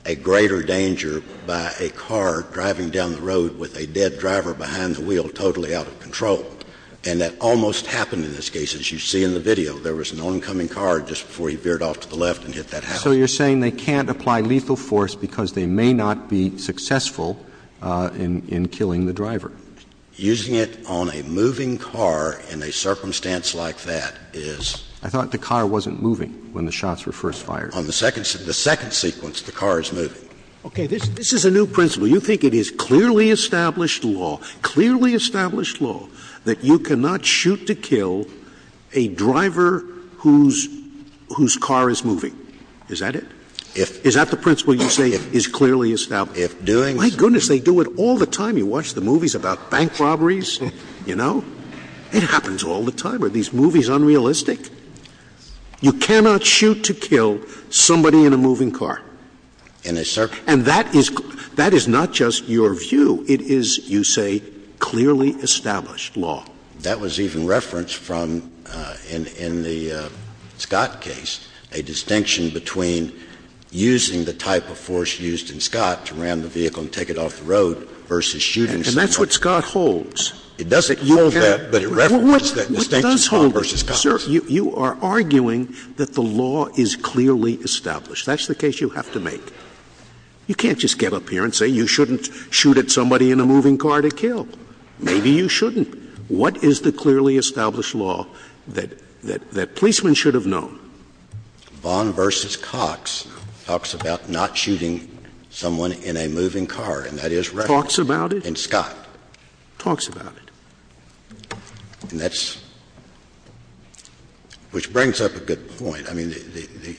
a greater danger by a car driving down the road with a dead driver behind the wheel totally out of control. And that almost happened in this case, as you see in the video. There was an oncoming car just before he veered off to the left and hit that house. So you're saying they can't apply lethal force because they may not be successful in killing the driver. Using it on a moving car in a circumstance like that is the second sequence the car is moving. Okay. This is a new principle. You think it is clearly established law, clearly established law, that you cannot shoot to kill a driver whose car is moving. Is that it? If. Is that the principle you say is clearly established? If doing so. My goodness, they do it all the time. You watch the movies about bank robberies, you know? It happens all the time. Are these movies unrealistic? You cannot shoot to kill somebody in a moving car. In a circumstance. And that is not just your view. It is, you say, clearly established law. That was even referenced from in the Scott case, a distinction between using the type of force used in Scott to ram the vehicle and take it off the road versus shooting somebody. And that's what Scott holds. It doesn't hold that, but it references that distinction from versus Scott. Sir, you are arguing that the law is clearly established. That's the case you have to make. You can't just get up here and say you shouldn't shoot at somebody in a moving car to kill. Maybe you shouldn't. What is the clearly established law that policemen should have known? Vaughn v. Cox talks about not shooting someone in a moving car. And that is referenced. Talks about it? In Scott. Talks about it. And that's — which brings up a good point. I mean, the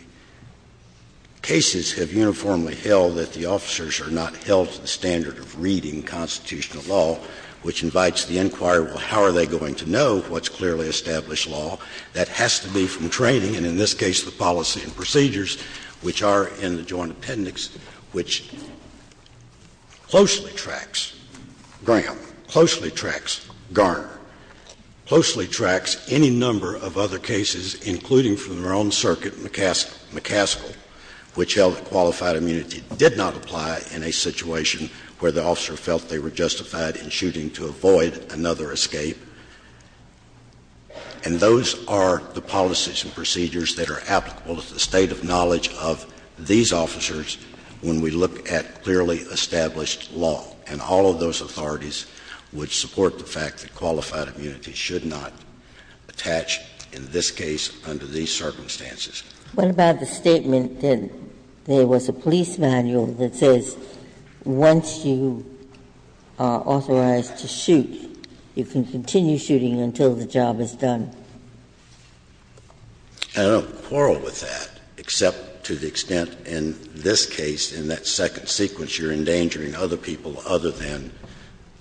cases have uniformly held that the officers are not held to the standard of reading constitutional law, which invites the inquiry, well, how are they going to know what's clearly established law? That has to be from training, and in this case the policy and procedures, which are in the Joint Appendix, which closely tracks Graham, closely tracks Garner, closely tracks any number of other cases, including from their own circuit, McCaskill, which held that qualified immunity did not apply in a situation where the officer felt they were justified in shooting to avoid another escape. And those are the policies and procedures that are applicable to the state of knowledge of these officers when we look at clearly established law. And all of those authorities would support the fact that qualified immunity should not attach in this case under these circumstances. Ginsburg. What about the statement that there was a police manual that says once you are authorized to shoot, you can continue shooting until the job is done? I don't quarrel with that, except to the extent in this case, in that second sequence, that you're endangering other people other than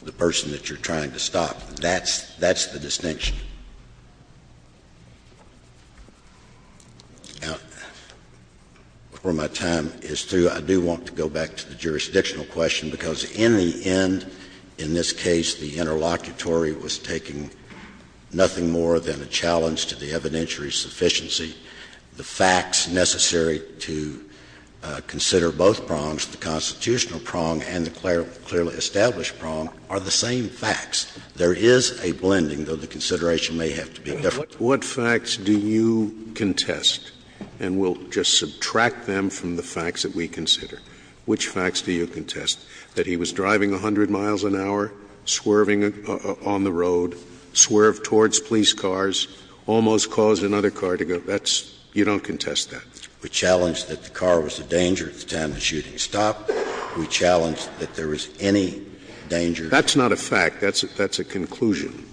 the person that you're trying to stop. That's, that's the distinction. Now, before my time is through, I do want to go back to the jurisdictional question, because in the end, in this case, the interlocutory was taking nothing more than a challenge to the evidentiary sufficiency, the facts necessary to consider both prongs, the constitutional prong and the clearly established prong, are the same facts. There is a blending, though the consideration may have to be different. Scalia, what facts do you contest? And we'll just subtract them from the facts that we consider. Which facts do you contest? That he was driving 100 miles an hour, swerving on the road, swerved towards police cars, almost caused another car to go, that's, you don't contest that? We challenge that the car was a danger at the time of the shooting stop. We challenge that there was any danger. That's not a fact. That's a conclusion.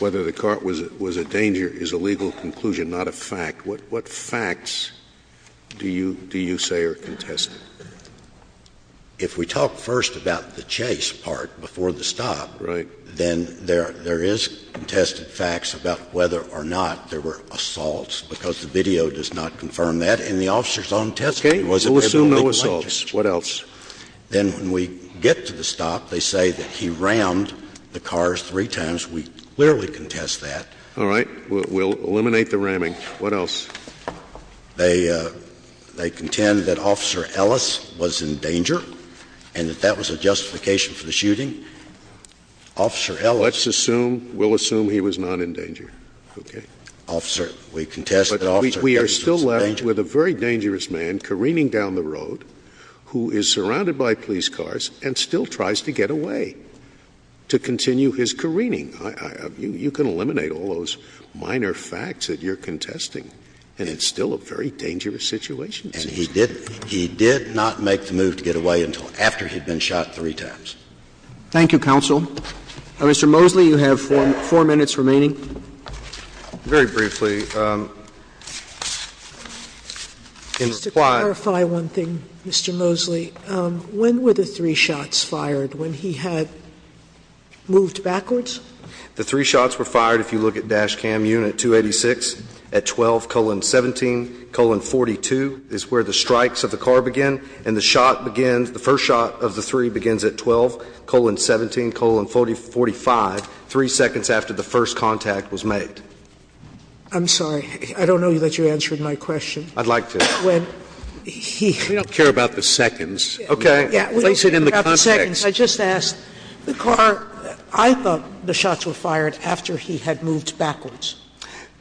Whether the car was a danger is a legal conclusion, not a fact. What facts do you say are contested? If we talk first about the chase part before the stop, then there is contested facts about whether or not there were assaults, because the video does not confirm that. And the officer's own testimony was that there were no assaults. What else? Then when we get to the stop, they say that he rammed the cars three times. We clearly contest that. All right, we'll eliminate the ramming. What else? They contend that Officer Ellis was in danger, and that that was a justification for the shooting. Officer Ellis. Let's assume, we'll assume he was not in danger, okay? Officer, we contest that Officer Ellis was in danger. But we are still left with a very dangerous man careening down the road who is surrounded by police cars and still tries to get away to continue his careening. You can eliminate all those minor facts that you're contesting. And it's still a very dangerous situation. And he did not make the move to get away until after he'd been shot three times. Thank you, counsel. Mr. Mosley, you have four minutes remaining. Very briefly, in reply- Just to clarify one thing, Mr. Mosley, when were the three shots fired, when he had moved backwards? The three shots were fired, if you look at dash cam unit 286, at 12 colon 17 colon 42 is where the strikes of the car begin. And the shot begins, the first shot of the three begins at 12 colon 17 colon 45, three seconds after the first contact was made. I'm sorry. I don't know that you answered my question. I'd like to. When he- We don't care about the seconds. Okay. We don't care about the seconds. I just asked, the car, I thought the shots were fired after he had moved backwards.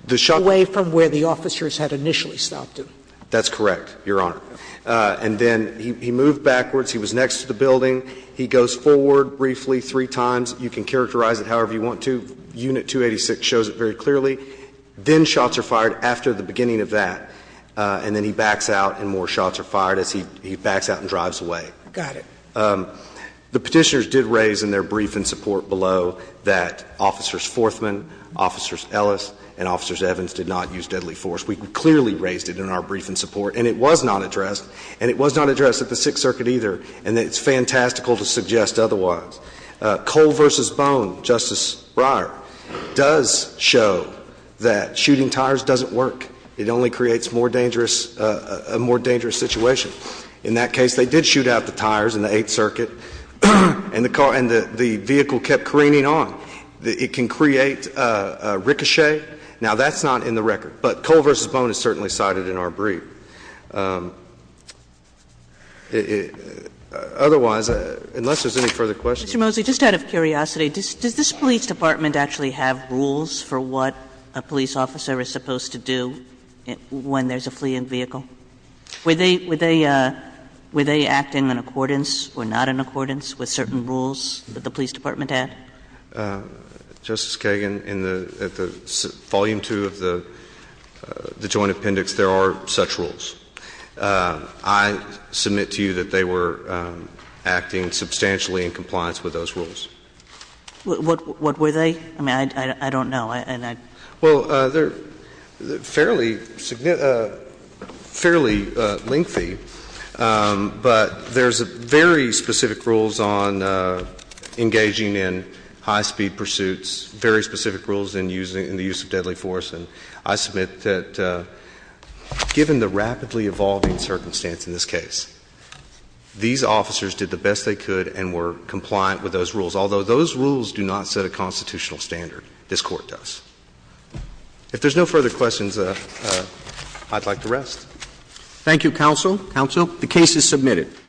The shot- Away from where the officers had initially stopped him. That's correct, Your Honor. And then he moved backwards, he was next to the building, he goes forward briefly three times, you can characterize it however you want to, unit 286 shows it very clearly. Then shots are fired after the beginning of that, and then he backs out and more shots are fired as he backs out and drives away. Got it. The Petitioners did raise in their brief in support below that Officers Forthman, Officers Ellis, and Officers Evans did not use deadly force. We clearly raised it in our brief in support, and it was not addressed. And it was not addressed at the Sixth Circuit either, and it's fantastical to suggest otherwise. Cole versus Bone, Justice Breyer, does show that shooting tires doesn't work. It only creates a more dangerous situation. In that case, they did shoot out the tires in the Eighth Circuit, and the vehicle kept careening on. It can create a ricochet. Now, that's not in the record, but Cole versus Bone is certainly cited in our brief. Otherwise, unless there's any further questions. Mr. Mosley, just out of curiosity, does this police department actually have rules for what a police officer is supposed to do when there's a fleeing vehicle? Were they acting in accordance or not in accordance with certain rules that the police department had? Justice Kagan, in the volume two of the joint appendix, there are such rules. I submit to you that they were acting substantially in compliance with those rules. What were they? I mean, I don't know. Well, they're fairly lengthy. But there's very specific rules on engaging in high-speed pursuits, very specific rules in the use of deadly force. And I submit that given the rapidly evolving circumstance in this case, these officers did the best they could and were compliant with those rules. Although those rules do not set a constitutional standard, this Court does. If there's no further questions, I'd like to rest. Thank you, counsel. Counsel, the case is submitted.